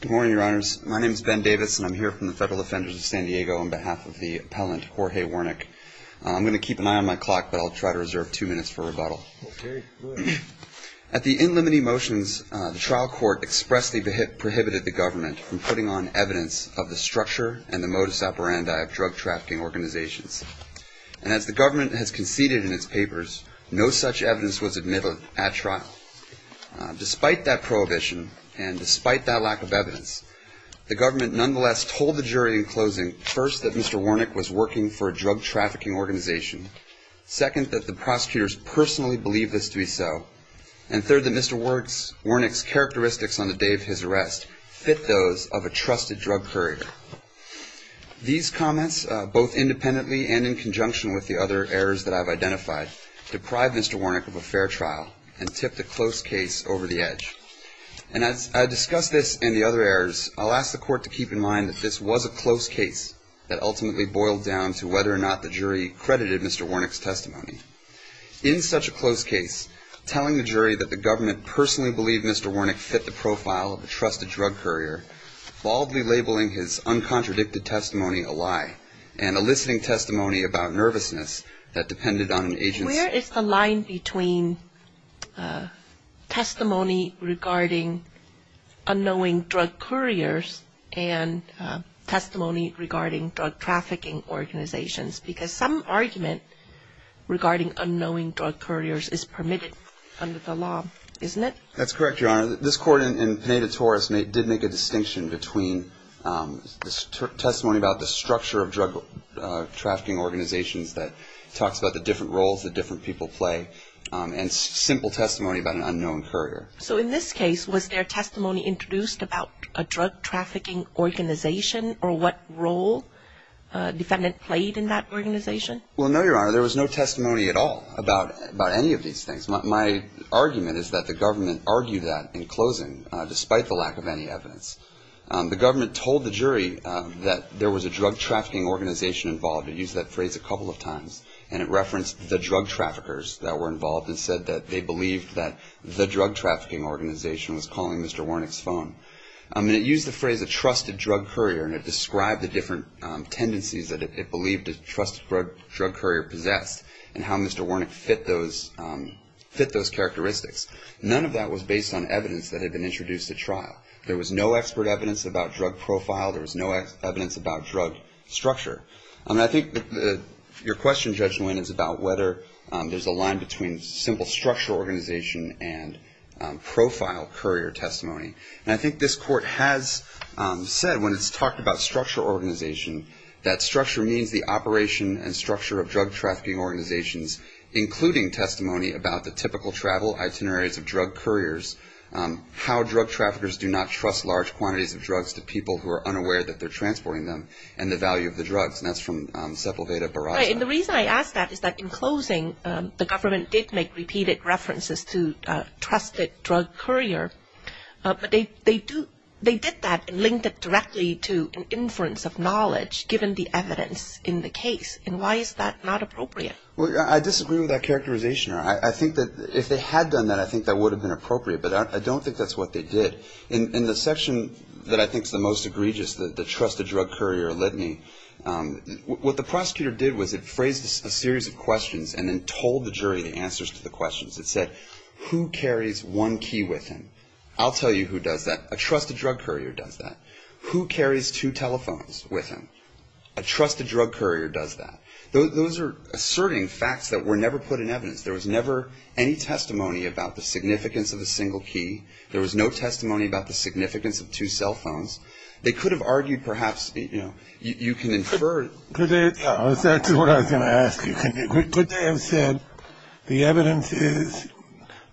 Good morning, your honors. My name is Ben Davis, and I'm here from the Federal Defenders of San Diego on behalf of the appellant, Jorge Wernick. I'm going to keep an eye on my clock, but I'll try to reserve two minutes for rebuttal. At the in limine motions, the trial court expressly prohibited the government from putting on evidence of the structure and the modus operandi of drug trafficking organizations. And as the government has conceded in its papers, no such evidence was admitted at trial. Despite that prohibition, and despite that lack of evidence, the government nonetheless told the jury in closing, first, that Mr. Wernick was working for a drug trafficking organization, second, that the prosecutors personally believed this to be so, and third, that Mr. Wernick's characteristics on the day of his arrest fit those of a trusted drug courier. These comments, both independently and in conjunction with the other errors that I've identified, deprived Mr. Wernick of a fair trial and tipped a close case over the edge. And as I discuss this and the other errors, I'll ask the court to keep in mind that this was a close case that ultimately boiled down to whether or not the jury credited Mr. Wernick's testimony. In such a close case, telling the jury that the government personally believed Mr. Wernick fit the profile of a trusted drug courier, baldly labeling his uncontradicted testimony a lie and eliciting testimony about nervousness that depended on an agent's... Where is the line between testimony regarding unknowing drug couriers and testimony regarding drug trafficking organizations? Because some argument regarding unknowing drug couriers is permitted under the law, isn't it? That's correct, Your Honor. This court in Pineda-Torres did make a distinction between testimony about the structure of drug trafficking organizations that talks about the different roles that different people play and simple testimony about an unknown courier. So in this case, was there testimony introduced about a drug trafficking organization or what role defendant played in that organization? Well, no, Your Honor. There was no testimony at all about any of these things. My argument is that the government argued that in closing despite the lack of any evidence. The government told the jury that there was a drug trafficking organization involved. It used that phrase a couple of times and it referenced the drug traffickers that were involved and said that they believed that the drug trafficking organization was calling Mr. Warnick's phone. And it used the phrase a trusted drug courier and it described the different tendencies that it believed a trusted drug courier possessed and how Mr. Warnick fit those characteristics. None of that was based on evidence that had been introduced at trial. There was no expert evidence about drug profile. There was no evidence about drug structure. And I think that your question, Judge Nguyen, is about whether there's a line between simple structural organization and profile courier testimony. And I think this court has said when it's talked about structural organization, that structure means the operation and structure of drug trafficking organizations, including testimony about the typical travel itineraries of drug couriers, how drug traffickers do not trust large quantities of drugs to people who are unaware that they're transporting them and the value of the drugs. And that's from Sepulveda Barraza. And the reason I ask that is that in closing, the government did make repeated references to trusted drug courier. But they did that and linked it directly to an inference of knowledge given the evidence in the case. And why is that not appropriate? Well, I disagree with that characterization. I think that if they had done that, I think that would have been appropriate. But I don't think that's what they did. In the section that I think is the most egregious, the trusted drug courier litany, what the prosecutor did was it phrased a series of questions and then told the jury the answers to the questions. It said, who carries one key with him? I'll tell you who does that. A trusted drug courier does that. Who carries two telephones with him? A trusted drug courier does that. Those are asserting facts that were never put in evidence. There was never any testimony about the significance of a single key. There was no testimony about the significance of two cell phones. They could have argued perhaps, you know, you can infer. That's what I was going to ask you. Could they have said the evidence is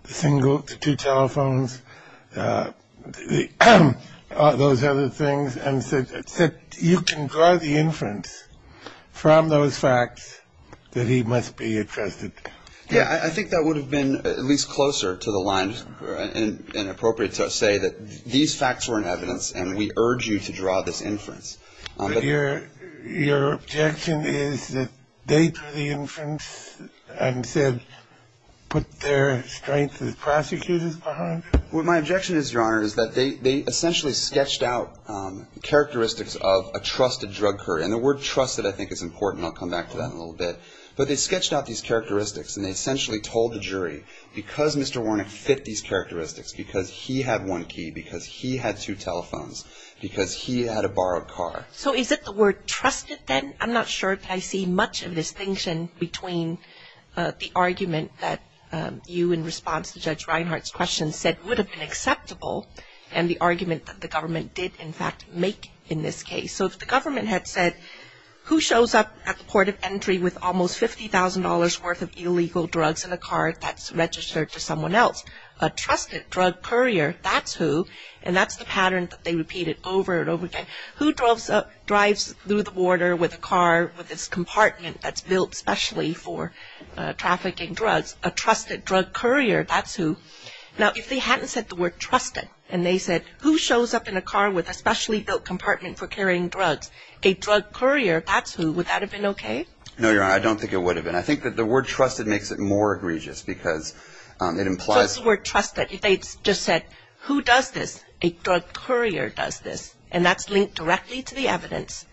the two telephones, those other things, and said you can draw the inference from those facts that he must be a trusted drug courier? Yeah, I think that would have been at least closer to the line and appropriate to say that these facts were in evidence and we urge you to draw this inference. But your objection is that they drew the inference and said put their strengths as prosecutors behind? Well, my objection is, Your Honor, is that they essentially sketched out characteristics of a trusted drug courier. And the word trusted I think is important. I'll come back to that in a little bit. But they sketched out these characteristics and they essentially told the jury because Mr. Warnock fit these characteristics, because he had one key, because he had two telephones, because he had a borrowed car. So is it the word trusted then? I'm not sure that I see much of a distinction between the argument that you, in response to Judge Reinhart's question, said would have been acceptable and the argument that the government did in fact make in this case. So if the government had said who shows up at the port of entry with almost $50,000 worth of illegal drugs in a car that's registered to someone else? A trusted drug courier, that's who. And that's the pattern that they repeated over and over again. Who drives through the border with a car with its compartment that's built specially for trafficking drugs? A trusted drug courier, that's who. Now, if they hadn't said the word trusted and they said who shows up in a car with a specially built compartment for carrying drugs, a drug courier, that's who, would that have been okay? No, Your Honor. I don't think it would have been. I think that the word trusted makes it more egregious because it implies. So it's the word trusted. If they just said who does this? A drug courier does this. And that's linked directly to the evidence.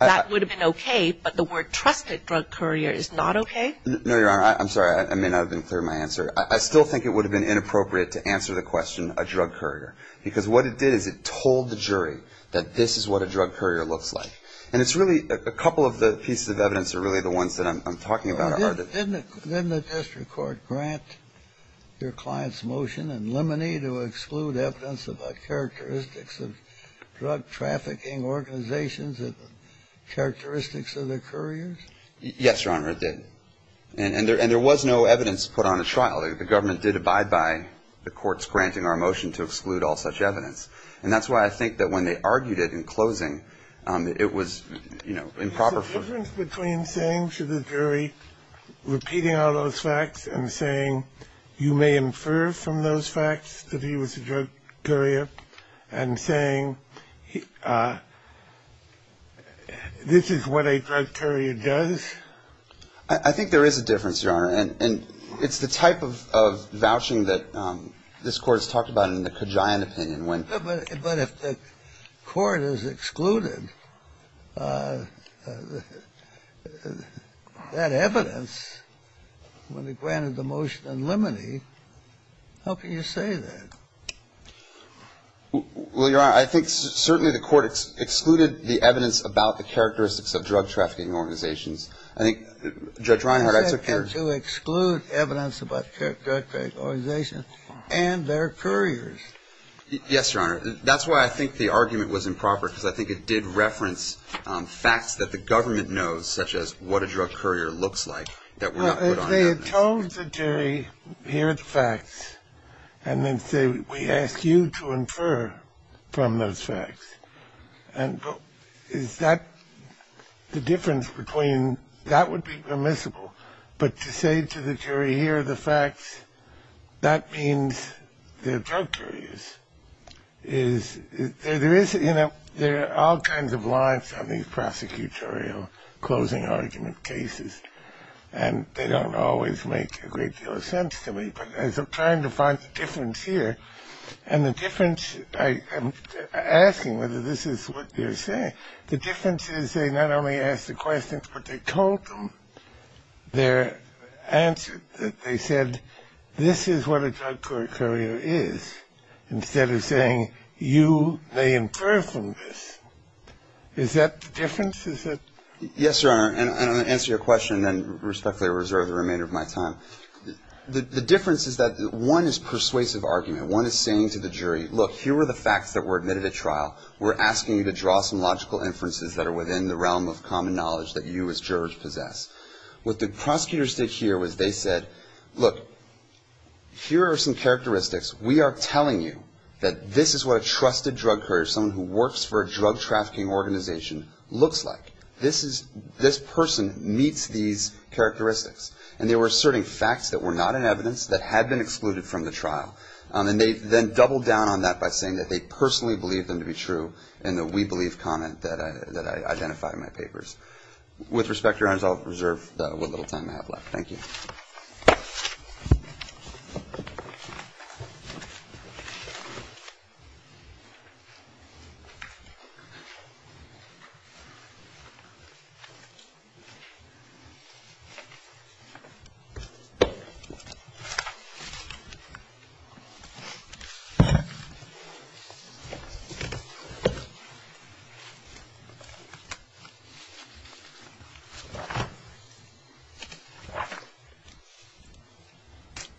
That would have been okay. But the word trusted drug courier is not okay? No, Your Honor. I'm sorry. I may not have been clear in my answer. I still think it would have been inappropriate to answer the question a drug courier. Because what it did is it told the jury that this is what a drug courier looks like. And it's really a couple of the pieces of evidence are really the ones that I'm talking about. Didn't the district court grant your client's motion in limine to exclude evidence about characteristics of drug trafficking organizations and characteristics of the couriers? Yes, Your Honor, it did. And there was no evidence put on the trial. The government did abide by the court's granting our motion to exclude all such evidence. And that's why I think that when they argued it in closing, it was, you know, improper. Is there a difference between saying to the jury, repeating all those facts, and saying you may infer from those facts that he was a drug courier, and saying this is what a drug courier does? And it's the type of vouching that this Court has talked about in the Kajian opinion. But if the court has excluded that evidence when it granted the motion in limine, how can you say that? Well, Your Honor, I think certainly the court excluded the evidence about the characteristics of drug trafficking organizations. I think Judge Reinhardt I took care of. You said to exclude evidence about drug trafficking organizations and their couriers. Yes, Your Honor. That's why I think the argument was improper, because I think it did reference facts that the government knows, such as what a drug courier looks like, that were not put on the evidence. Well, if they had told the jury, here are the facts, and then said we ask you to infer from those facts, is that the difference between that would be permissible? But to say to the jury, here are the facts, that means they're drug couriers. There are all kinds of lines on these prosecutorial closing argument cases, and they don't always make a great deal of sense to me. But as I'm trying to find the difference here, and the difference, I'm asking whether this is what they're saying. The difference is they not only ask the questions, but they told them their answer, that they said this is what a drug courier is, instead of saying you may infer from this. Is that the difference? Yes, Your Honor, and I'll answer your question and respectfully reserve the remainder of my time. The difference is that one is persuasive argument. One is saying to the jury, look, here are the facts that were admitted at trial. We're asking you to draw some logical inferences that are within the realm of common knowledge that you as jurors possess. What the prosecutors did here was they said, look, here are some characteristics. We are telling you that this is what a trusted drug courier, someone who works for a drug trafficking organization, looks like. This person meets these characteristics. And they were asserting facts that were not in evidence that had been excluded from the trial. And they then doubled down on that by saying that they personally believed them to be true in the we believe comment that I identified in my papers. With respect, Your Honors, I'll reserve what little time I have left. Thank you.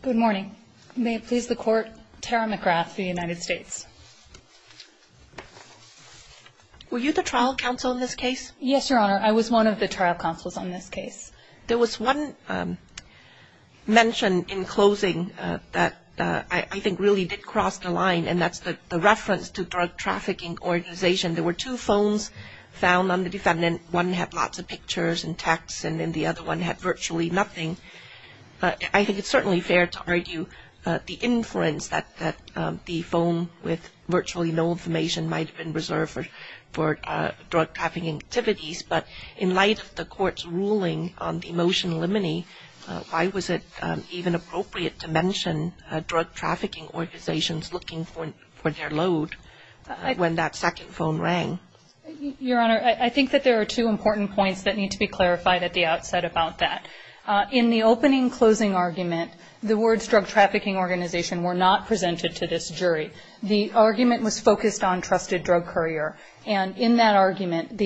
Good morning. May it please the Court, Tara McGrath of the United States. Were you the trial counsel in this case? Yes, Your Honor. I was one of the trial counsels on this case. There was one mention in closing that I think really did cross the line, and that's the reference to drug trafficking organization. There were two phones found on the defendant. One had lots of pictures and texts, and then the other one had virtually nothing. I think it's certainly fair to argue the inference that the phone with virtually no information might have been reserved for drug trafficking activities. But in light of the Court's ruling on the motion limine, why was it even appropriate to mention drug trafficking organizations looking for their load when that second phone rang? Your Honor, I think that there are two important points that need to be clarified at the outset about that. In the opening closing argument, the words drug trafficking organization were not presented to this jury. The argument was focused on trusted drug courier. And in that argument,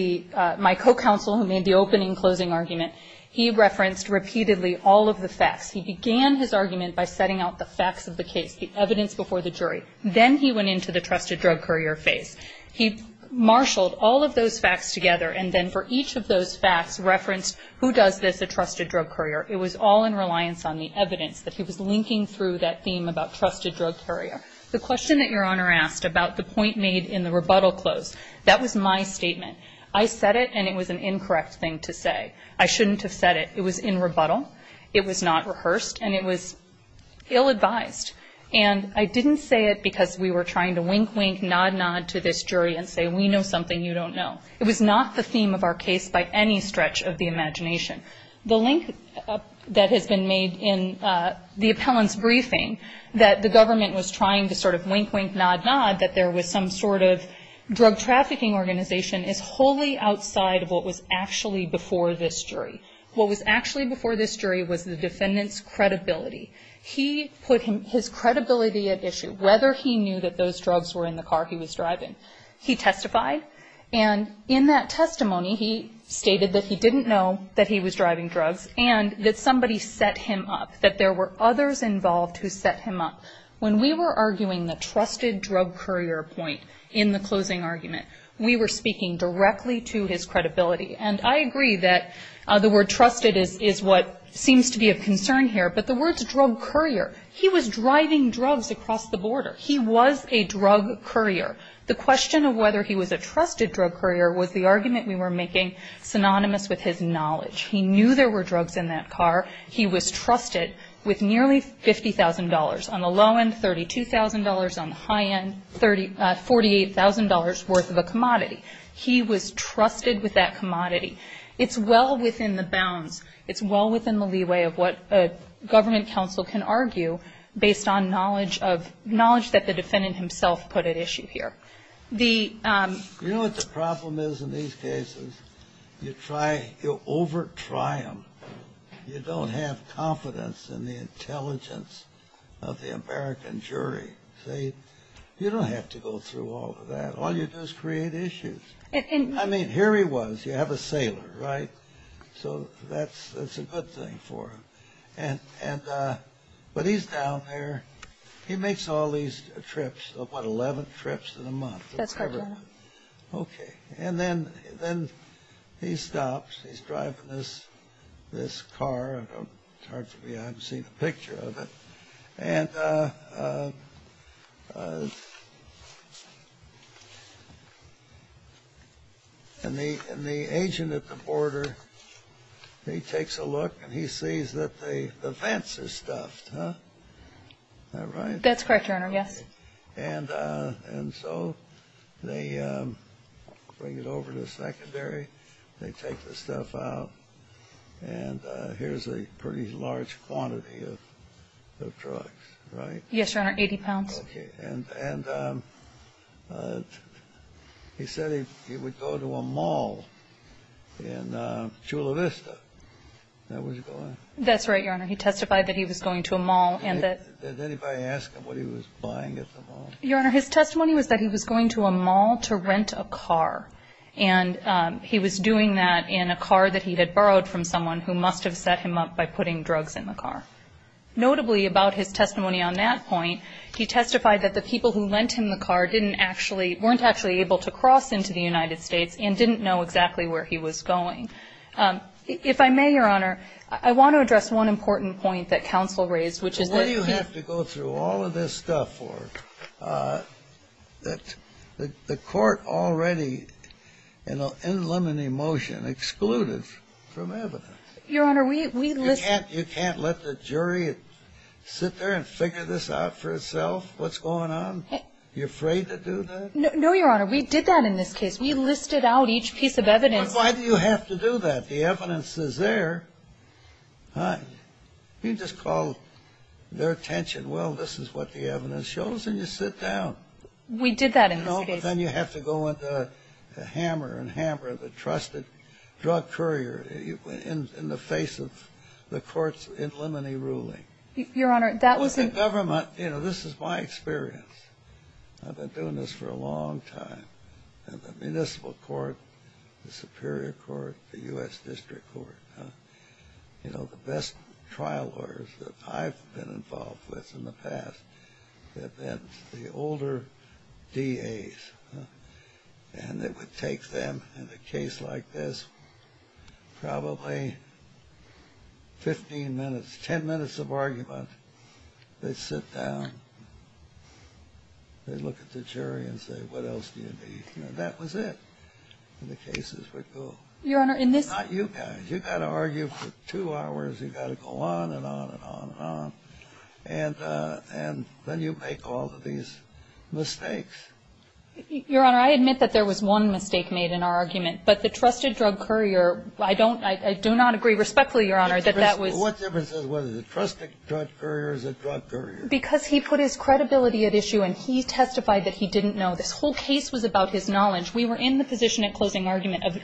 my co-counsel who made the opening closing argument, he referenced repeatedly all of the facts. He began his argument by setting out the facts of the case, the evidence before the jury. Then he went into the trusted drug courier phase. He marshaled all of those facts together, and then for each of those facts referenced who does this, a trusted drug courier. It was all in reliance on the evidence that he was linking through that theme about trusted drug courier. The question that Your Honor asked about the point made in the rebuttal close, that was my statement. I said it, and it was an incorrect thing to say. I shouldn't have said it. It was in rebuttal. It was not rehearsed. And it was ill-advised. And I didn't say it because we were trying to wink-wink, nod-nod to this jury and say, we know something you don't know. It was not the theme of our case by any stretch of the imagination. The link that has been made in the appellant's briefing that the government was trying to sort of wink-wink, nod-nod that there was some sort of drug trafficking organization is wholly outside of what was actually before this jury. What was actually before this jury was the defendant's credibility. He put his credibility at issue. Whether he knew that those drugs were in the car he was driving, he testified. And in that testimony, he stated that he didn't know that he was driving drugs and that somebody set him up, that there were others involved who set him up. When we were arguing the trusted drug courier point in the closing argument, we were speaking directly to his credibility. And I agree that the word trusted is what seems to be of concern here. But the word drug courier, he was driving drugs across the border. He was a drug courier. The question of whether he was a trusted drug courier was the argument we were making synonymous with his knowledge. He knew there were drugs in that car. He was trusted with nearly $50,000. On the low end, $32,000. On the high end, $48,000 worth of a commodity. He was trusted with that commodity. It's well within the bounds. It's well within the leeway of what a government counsel can argue based on knowledge of, knowledge that the defendant himself put at issue here. The... You know what the problem is in these cases? You try, you over-try them. You don't have confidence in the intelligence of the American jury. See, you don't have to go through all of that. All you do is create issues. I mean, here he was. You have a sailor, right? So that's a good thing for him. And, but he's down there. He makes all these trips, what, 11 trips in a month? That's correct, Your Honor. Okay. And then he stops. He's driving this car. It's hard for me. I haven't seen a picture of it. And the agent at the border, he takes a look and he sees that the vents are stuffed. Is that right? That's correct, Your Honor, yes. And so they bring it over to the secondary. They take the stuff out. And here's a pretty large quantity of drugs, right? Yes, Your Honor, 80 pounds. Okay. And he said he would go to a mall in Chula Vista. That's right, Your Honor. He testified that he was going to a mall. Did anybody ask him what he was buying at the mall? Your Honor, his testimony was that he was going to a mall to rent a car. And he was doing that in a car that he had borrowed from someone who must have set him up by putting drugs in the car. Notably, about his testimony on that point, he testified that the people who lent him the car didn't actually, weren't actually able to cross into the United States and didn't know exactly where he was going. If I may, Your Honor, I want to address one important point that counsel raised, which is that he You have to go through all of this stuff that the court already in limine motion excluded from evidence. Your Honor, we listed. You can't let the jury sit there and figure this out for itself? What's going on? You afraid to do that? No, Your Honor. We did that in this case. We listed out each piece of evidence. Why do you have to do that? The evidence is there. You just call their attention, well, this is what the evidence shows, and you sit down. We did that in this case. No, but then you have to go into hammer and hammer the trusted drug courier in the face of the court's in limine ruling. Your Honor, that was in The government, you know, this is my experience. I've been doing this for a long time. And the municipal court, the superior court, the U.S. District Court, you know, the best trial lawyers that I've been involved with in the past have been the older DAs. And it would take them in a case like this probably 15 minutes, 10 minutes of argument. They sit down. They look at the jury and say, what else do you need? You know, that was it. And the cases would go. Your Honor, in this Not you guys. You've got to argue for two hours. You've got to go on and on and on and on. And then you make all of these mistakes. Your Honor, I admit that there was one mistake made in our argument. But the trusted drug courier, I don't, I do not agree respectfully, Your Honor, that that was What difference does it make whether the trusted drug courier is a drug courier? Because he put his credibility at issue and he testified that he didn't know. This whole case was about his knowledge. We were in the position at closing argument of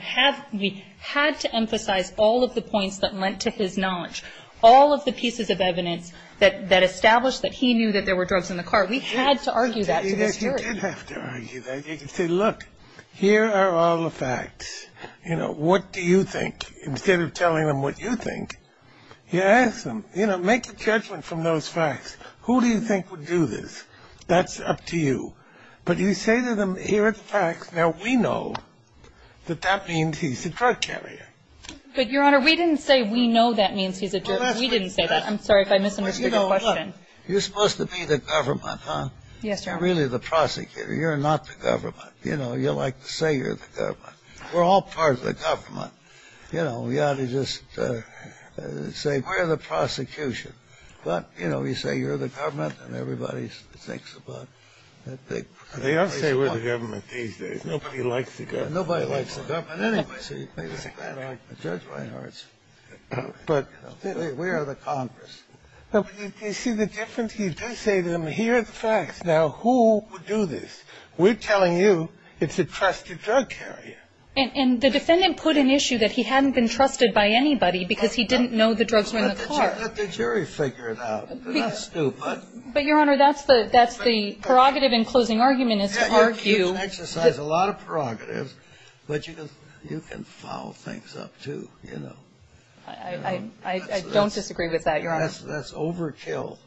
we had to emphasize all of the points that lent to his knowledge, all of the pieces of evidence that established that he knew that there were drugs in the car. We had to argue that to this jury. You did have to argue that. You could say, look, here are all the facts. You know, what do you think? Instead of telling them what you think, you ask them, you know, make a judgment from those facts. Who do you think would do this? That's up to you. But you say to them, here are the facts. Now, we know that that means he's a drug carrier. But, Your Honor, we didn't say we know that means he's a drug courier. We didn't say that. I'm sorry if I misunderstood your question. You're supposed to be the government, huh? Yes, Your Honor. You're really the prosecutor. You're not the government. You know, you like to say you're the government. We're all part of the government. You know, we ought to just say, we're the prosecution. But, you know, you say you're the government, and everybody thinks about it. They all say we're the government these days. Nobody likes the government. Nobody likes the government anyway. Judge Reinhardt's. But we are the Congress. You see the difference? You do say to them, here are the facts. Now, who would do this? We're telling you it's a trusted drug carrier. And the defendant put an issue that he hadn't been trusted by anybody because he didn't know the drugs were in the car. Let the jury figure it out. They're not stupid. But, Your Honor, that's the prerogative in closing argument is to argue. You can exercise a lot of prerogatives, but you can foul things up, too, you know. I don't disagree with that, Your Honor. That's overkill.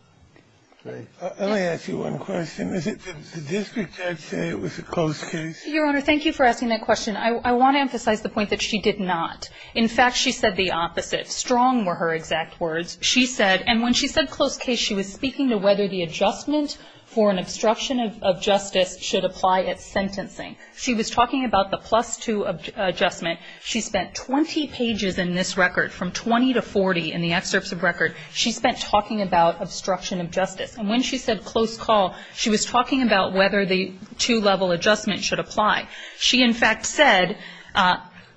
Let me ask you one question. The district judge said it was a closed case. Your Honor, thank you for asking that question. I want to emphasize the point that she did not. In fact, she said the opposite. Strong were her exact words. She said, and when she said closed case, she was speaking to whether the adjustment for an obstruction of justice should apply at sentencing. She was talking about the plus two adjustment. She spent 20 pages in this record, from 20 to 40 in the excerpts of record. She spent talking about obstruction of justice. And when she said close call, she was talking about whether the two-level adjustment should apply. She, in fact, said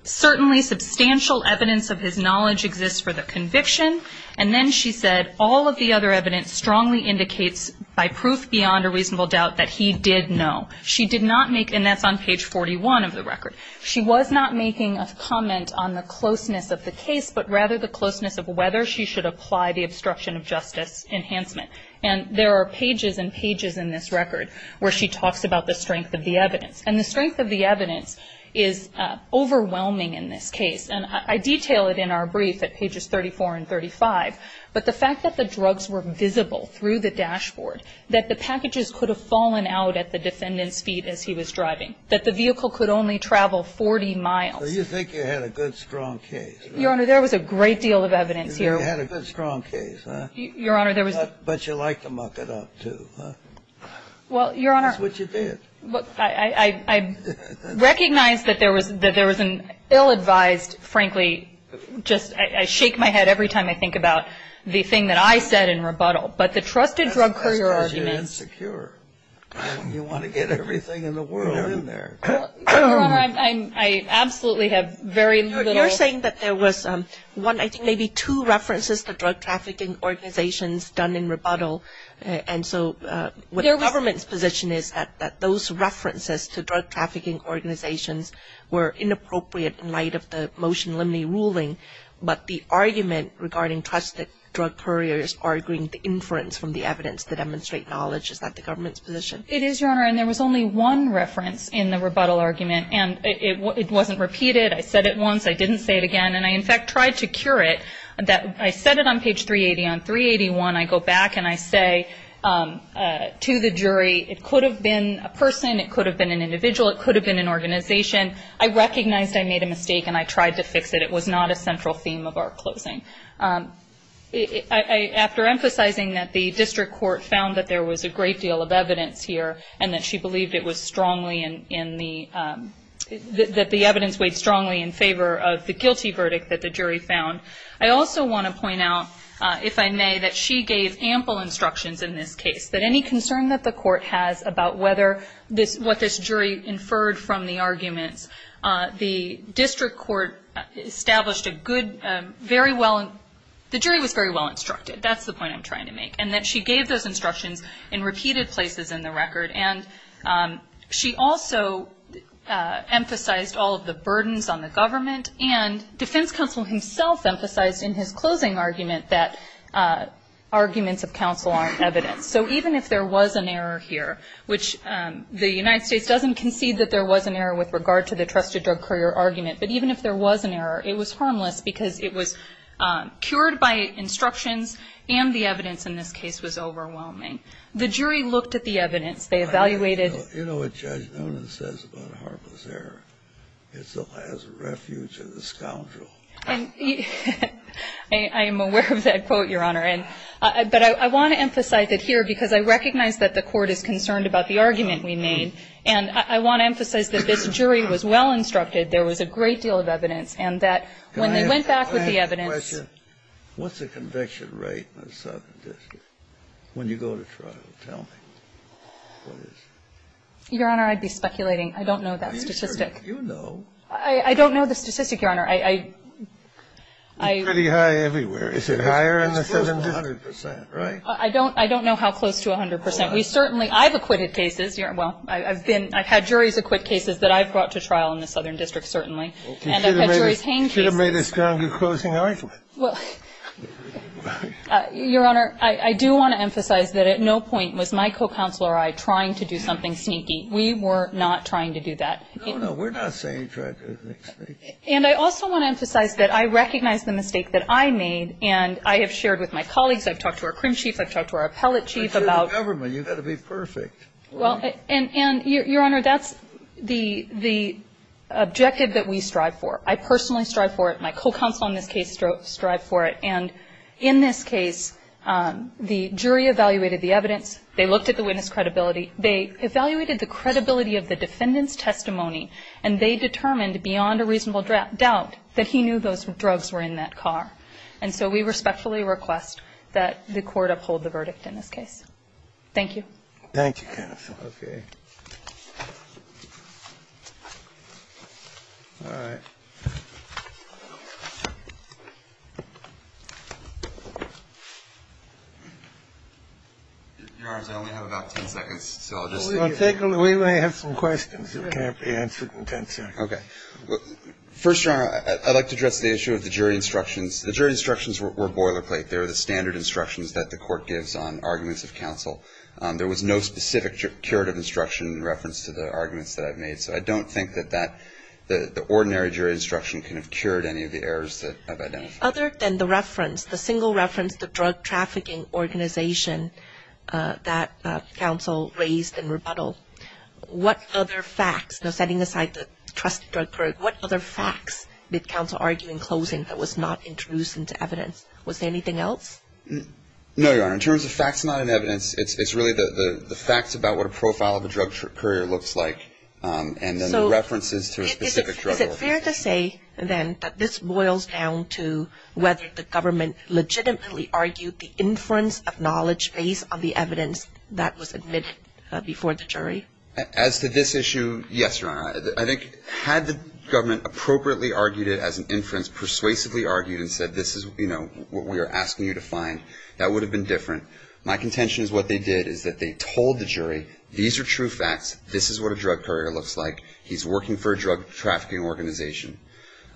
certainly substantial evidence of his knowledge exists for the conviction. And then she said all of the other evidence strongly indicates by proof beyond a reasonable doubt that he did know. She did not make, and that's on page 41 of the record. She was not making a comment on the closeness of the case, but rather the closeness of whether she should apply the obstruction of justice enhancement. And there are pages and pages in this record where she talks about the strength of the evidence. And the strength of the evidence is overwhelming in this case. And I detail it in our brief at pages 34 and 35. But the fact that the drugs were visible through the dashboard, that the packages could have fallen out at the defendant's feet as he was driving, that the vehicle could only travel 40 miles. You think you had a good, strong case. Your Honor, there was a great deal of evidence here. You had a good, strong case, huh? Your Honor, there was. But you like to muck it up, too, huh? Well, Your Honor. That's what you did. I recognize that there was an ill-advised, frankly, just I shake my head every time I think about the thing that I said in rebuttal. But the trusted drug courier argument. That's because you're insecure. You want to get everything in the world in there. Your Honor, I absolutely have very little. You're saying that there was one, I think maybe two references to drug trafficking organizations done in rebuttal. And so what the government's position is that those references to drug trafficking organizations were inappropriate in light of the motion limiting ruling. But the argument regarding trusted drug couriers arguing the inference from the evidence to demonstrate knowledge, is that the government's position? It is, Your Honor. And there was only one reference in the rebuttal argument. And it wasn't repeated. I said it once. I didn't say it again. And I, in fact, tried to cure it. I said it on page 380. On 381, I go back and I say to the jury, it could have been a person. It could have been an individual. It could have been an organization. I recognized I made a mistake and I tried to fix it. It was not a central theme of our closing. After emphasizing that the district court found that there was a great deal of evidence here and that she believed it was strongly in the, that the evidence weighed strongly in favor of the guilty verdict that the jury found, I also want to point out, if I may, that she gave ample instructions in this case, that any concern that the court has about whether this, what this jury inferred from the arguments, the district court established a good, very well, the jury was very well instructed. That's the point I'm trying to make. And that she gave those instructions in repeated places in the record. And she also emphasized all of the burdens on the government. And defense counsel himself emphasized in his closing argument that arguments of counsel aren't evidence. So even if there was an error here, which the United States doesn't concede that there was an error with regard to the trusted drug courier argument, but even if there was an error, it was harmless because it was cured by instructions and the evidence in this case was overwhelming. The jury looked at the evidence. They evaluated. You know what Judge Noonan says about harmless error. It's the last refuge of the scoundrel. I am aware of that quote, Your Honor. But I want to emphasize it here because I recognize that the court is concerned about the argument we made. And I want to emphasize that this jury was well instructed. There was a great deal of evidence. And that when they went back with the evidence. Can I ask a question? What's the conviction rate in the Southern District when you go to trial? Tell me what it is. Your Honor, I'd be speculating. I don't know that statistic. You know. I don't know the statistic, Your Honor. It's pretty high everywhere. Is it higher in the Southern District? It's close to 100 percent, right? I don't know how close to 100 percent. We certainly, I've acquitted cases. Well, I've been, I've had juries acquit cases that I've brought to trial in the Southern District, certainly. And I've had juries hang cases. You should have made a stronger closing argument. Well, Your Honor, I do want to emphasize that at no point was my co-counselor or I trying to do something sneaky. We were not trying to do that. No, no. We're not saying you tried to do something sneaky. And I also want to emphasize that I recognize the mistake that I made. And I have shared with my colleagues. I've talked to our crim chief. I've talked to our appellate chief about. But you're the government. You've got to be perfect. Well, and, Your Honor, that's the objective that we strive for. I personally strive for it. My co-counsel in this case strived for it. And in this case, the jury evaluated the evidence. They looked at the witness credibility. They evaluated the credibility of the defendant's testimony. And they determined beyond a reasonable doubt that he knew those drugs were in that car. And so we respectfully request that the court uphold the verdict in this case. Thank you. Thank you, Kenneth. Okay. All right. Your Honor, I only have about ten seconds, so I'll just. We may have some questions that can't be answered in ten seconds. Okay. First, Your Honor, I'd like to address the issue of the jury instructions. The jury instructions were boilerplate. They were the standard instructions that the court gives on arguments of counsel. There was no specific curative instruction in reference to the arguments that I've made. So I don't think that the ordinary jury instruction can have cured any of the errors that I've identified. Other than the reference, the single reference, the drug trafficking organization that counsel raised in rebuttal, what other facts, now setting aside the trusted drug courier, what other facts did counsel argue in closing that was not introduced into evidence? Was there anything else? No, Your Honor. In terms of facts not in evidence, it's really the facts about what a profile of a Is it fair to say, then, that this boils down to whether the government legitimately argued the inference of knowledge based on the evidence that was admitted before the jury? As to this issue, yes, Your Honor. I think had the government appropriately argued it as an inference, persuasively argued and said this is what we are asking you to find, that would have been different. My contention is what they did is that they told the jury, these are true facts, this is what a drug courier looks like, he's working for a drug trafficking organization.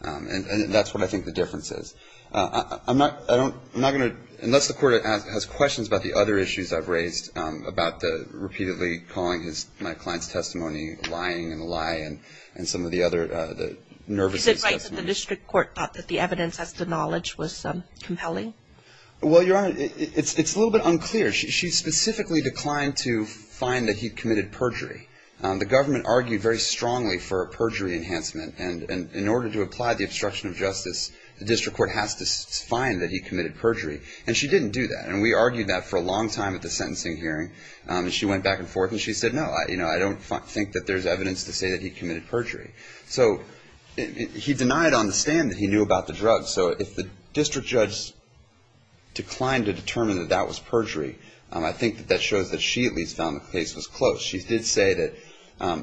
And that's what I think the difference is. I'm not going to, unless the court has questions about the other issues I've raised about the repeatedly calling my client's testimony lying and a lie and some of the other, the nervousness. Is it right that the district court thought that the evidence as to knowledge was compelling? Well, Your Honor, it's a little bit unclear. She specifically declined to find that he committed perjury. The government argued very strongly for a perjury enhancement. And in order to apply the obstruction of justice, the district court has to find that he committed perjury. And she didn't do that. And we argued that for a long time at the sentencing hearing. And she went back and forth. And she said, no, I don't think that there's evidence to say that he committed perjury. So he denied on the stand that he knew about the drug. So if the district judge declined to determine that that was perjury, I think that that shows that she at least found the case was close. She did say that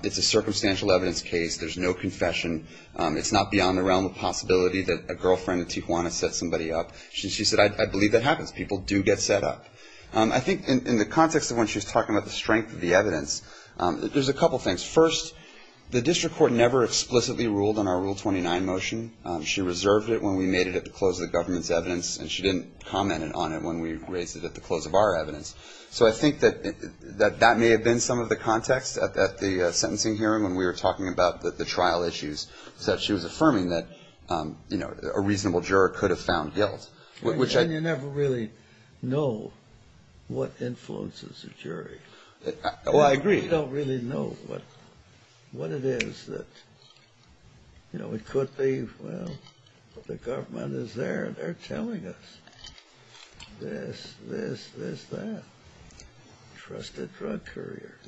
it's a circumstantial evidence case. There's no confession. It's not beyond the realm of possibility that a girlfriend in Tijuana set somebody up. She said, I believe that happens. People do get set up. I think in the context of when she was talking about the strength of the evidence, there's a couple things. First, the district court never explicitly ruled on our Rule 29 motion. She reserved it when we made it at the close of the government's evidence. And she didn't comment on it when we raised it at the close of our evidence. So I think that that may have been some of the context at the sentencing hearing when we were talking about the trial issues, that she was affirming that, you know, a reasonable juror could have found guilt, which I — And you never really know what influences a jury. Well, I agree. We don't really know what it is that, you know, it could be. Well, the government is there and they're telling us this, this, this, that. Trusted drug courier.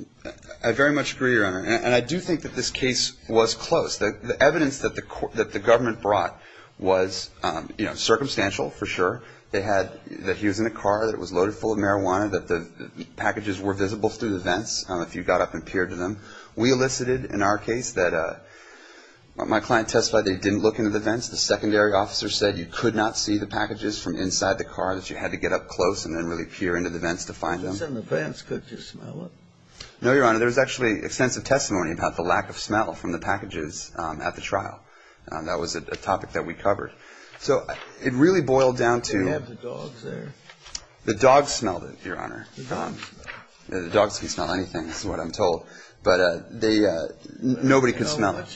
I very much agree, Your Honor. And I do think that this case was close. The evidence that the government brought was, you know, circumstantial for sure. They had that he was in a car, that it was loaded full of marijuana, that the We elicited in our case that my client testified they didn't look into the vents. The secondary officer said you could not see the packages from inside the car, that you had to get up close and then really peer into the vents to find them. Just in the vents. Could you smell it? No, Your Honor. There was actually extensive testimony about the lack of smell from the packages at the trial. That was a topic that we covered. So it really boiled down to — Did you have the dogs there? The dogs smelled it, Your Honor. The dogs. The dogs can smell anything is what I'm told. But nobody could smell it.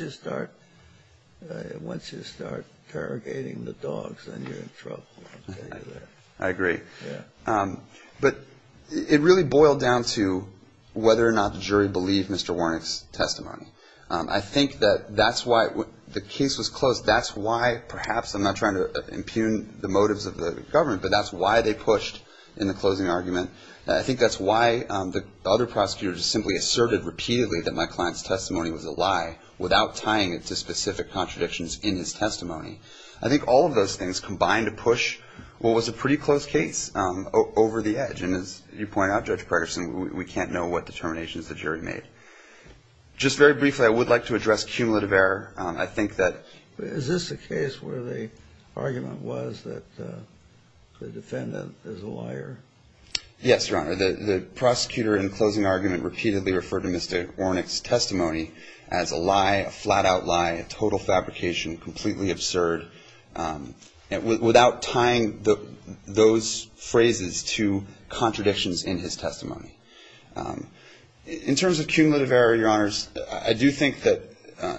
Once you start interrogating the dogs, then you're in trouble. I agree. Yeah. But it really boiled down to whether or not the jury believed Mr. Warnick's testimony. I think that that's why the case was closed. That's why, perhaps, I'm not trying to impugn the motives of the government, but that's why they pushed in the closing argument. I think that's why the other prosecutors simply asserted repeatedly that my client's testimony was a lie without tying it to specific contradictions in his testimony. I think all of those things combined to push what was a pretty close case over the edge. And as you point out, Judge Gregerson, we can't know what determinations the jury made. Just very briefly, I would like to address cumulative error. I think that — Is this a case where the argument was that the defendant is a liar? Yes, Your Honor. The prosecutor in the closing argument repeatedly referred to Mr. Warnick's testimony as a lie, a flat-out lie, a total fabrication, completely absurd, without tying those phrases to contradictions in his testimony. In terms of cumulative error, Your Honors, I do think that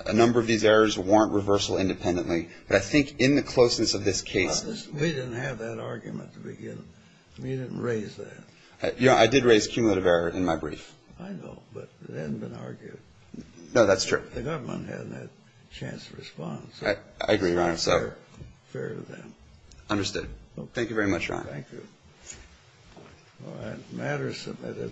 a number of these errors warrant reversal independently. But I think in the closeness of this case — We didn't have that argument to begin with. We didn't raise that. Your Honor, I did raise cumulative error in my brief. I know, but it hadn't been argued. No, that's true. The government hadn't had a chance to respond. I agree, Your Honor. So it's not fair to them. Understood. Thank you very much, Your Honor. Thank you. All right. The matter is submitted.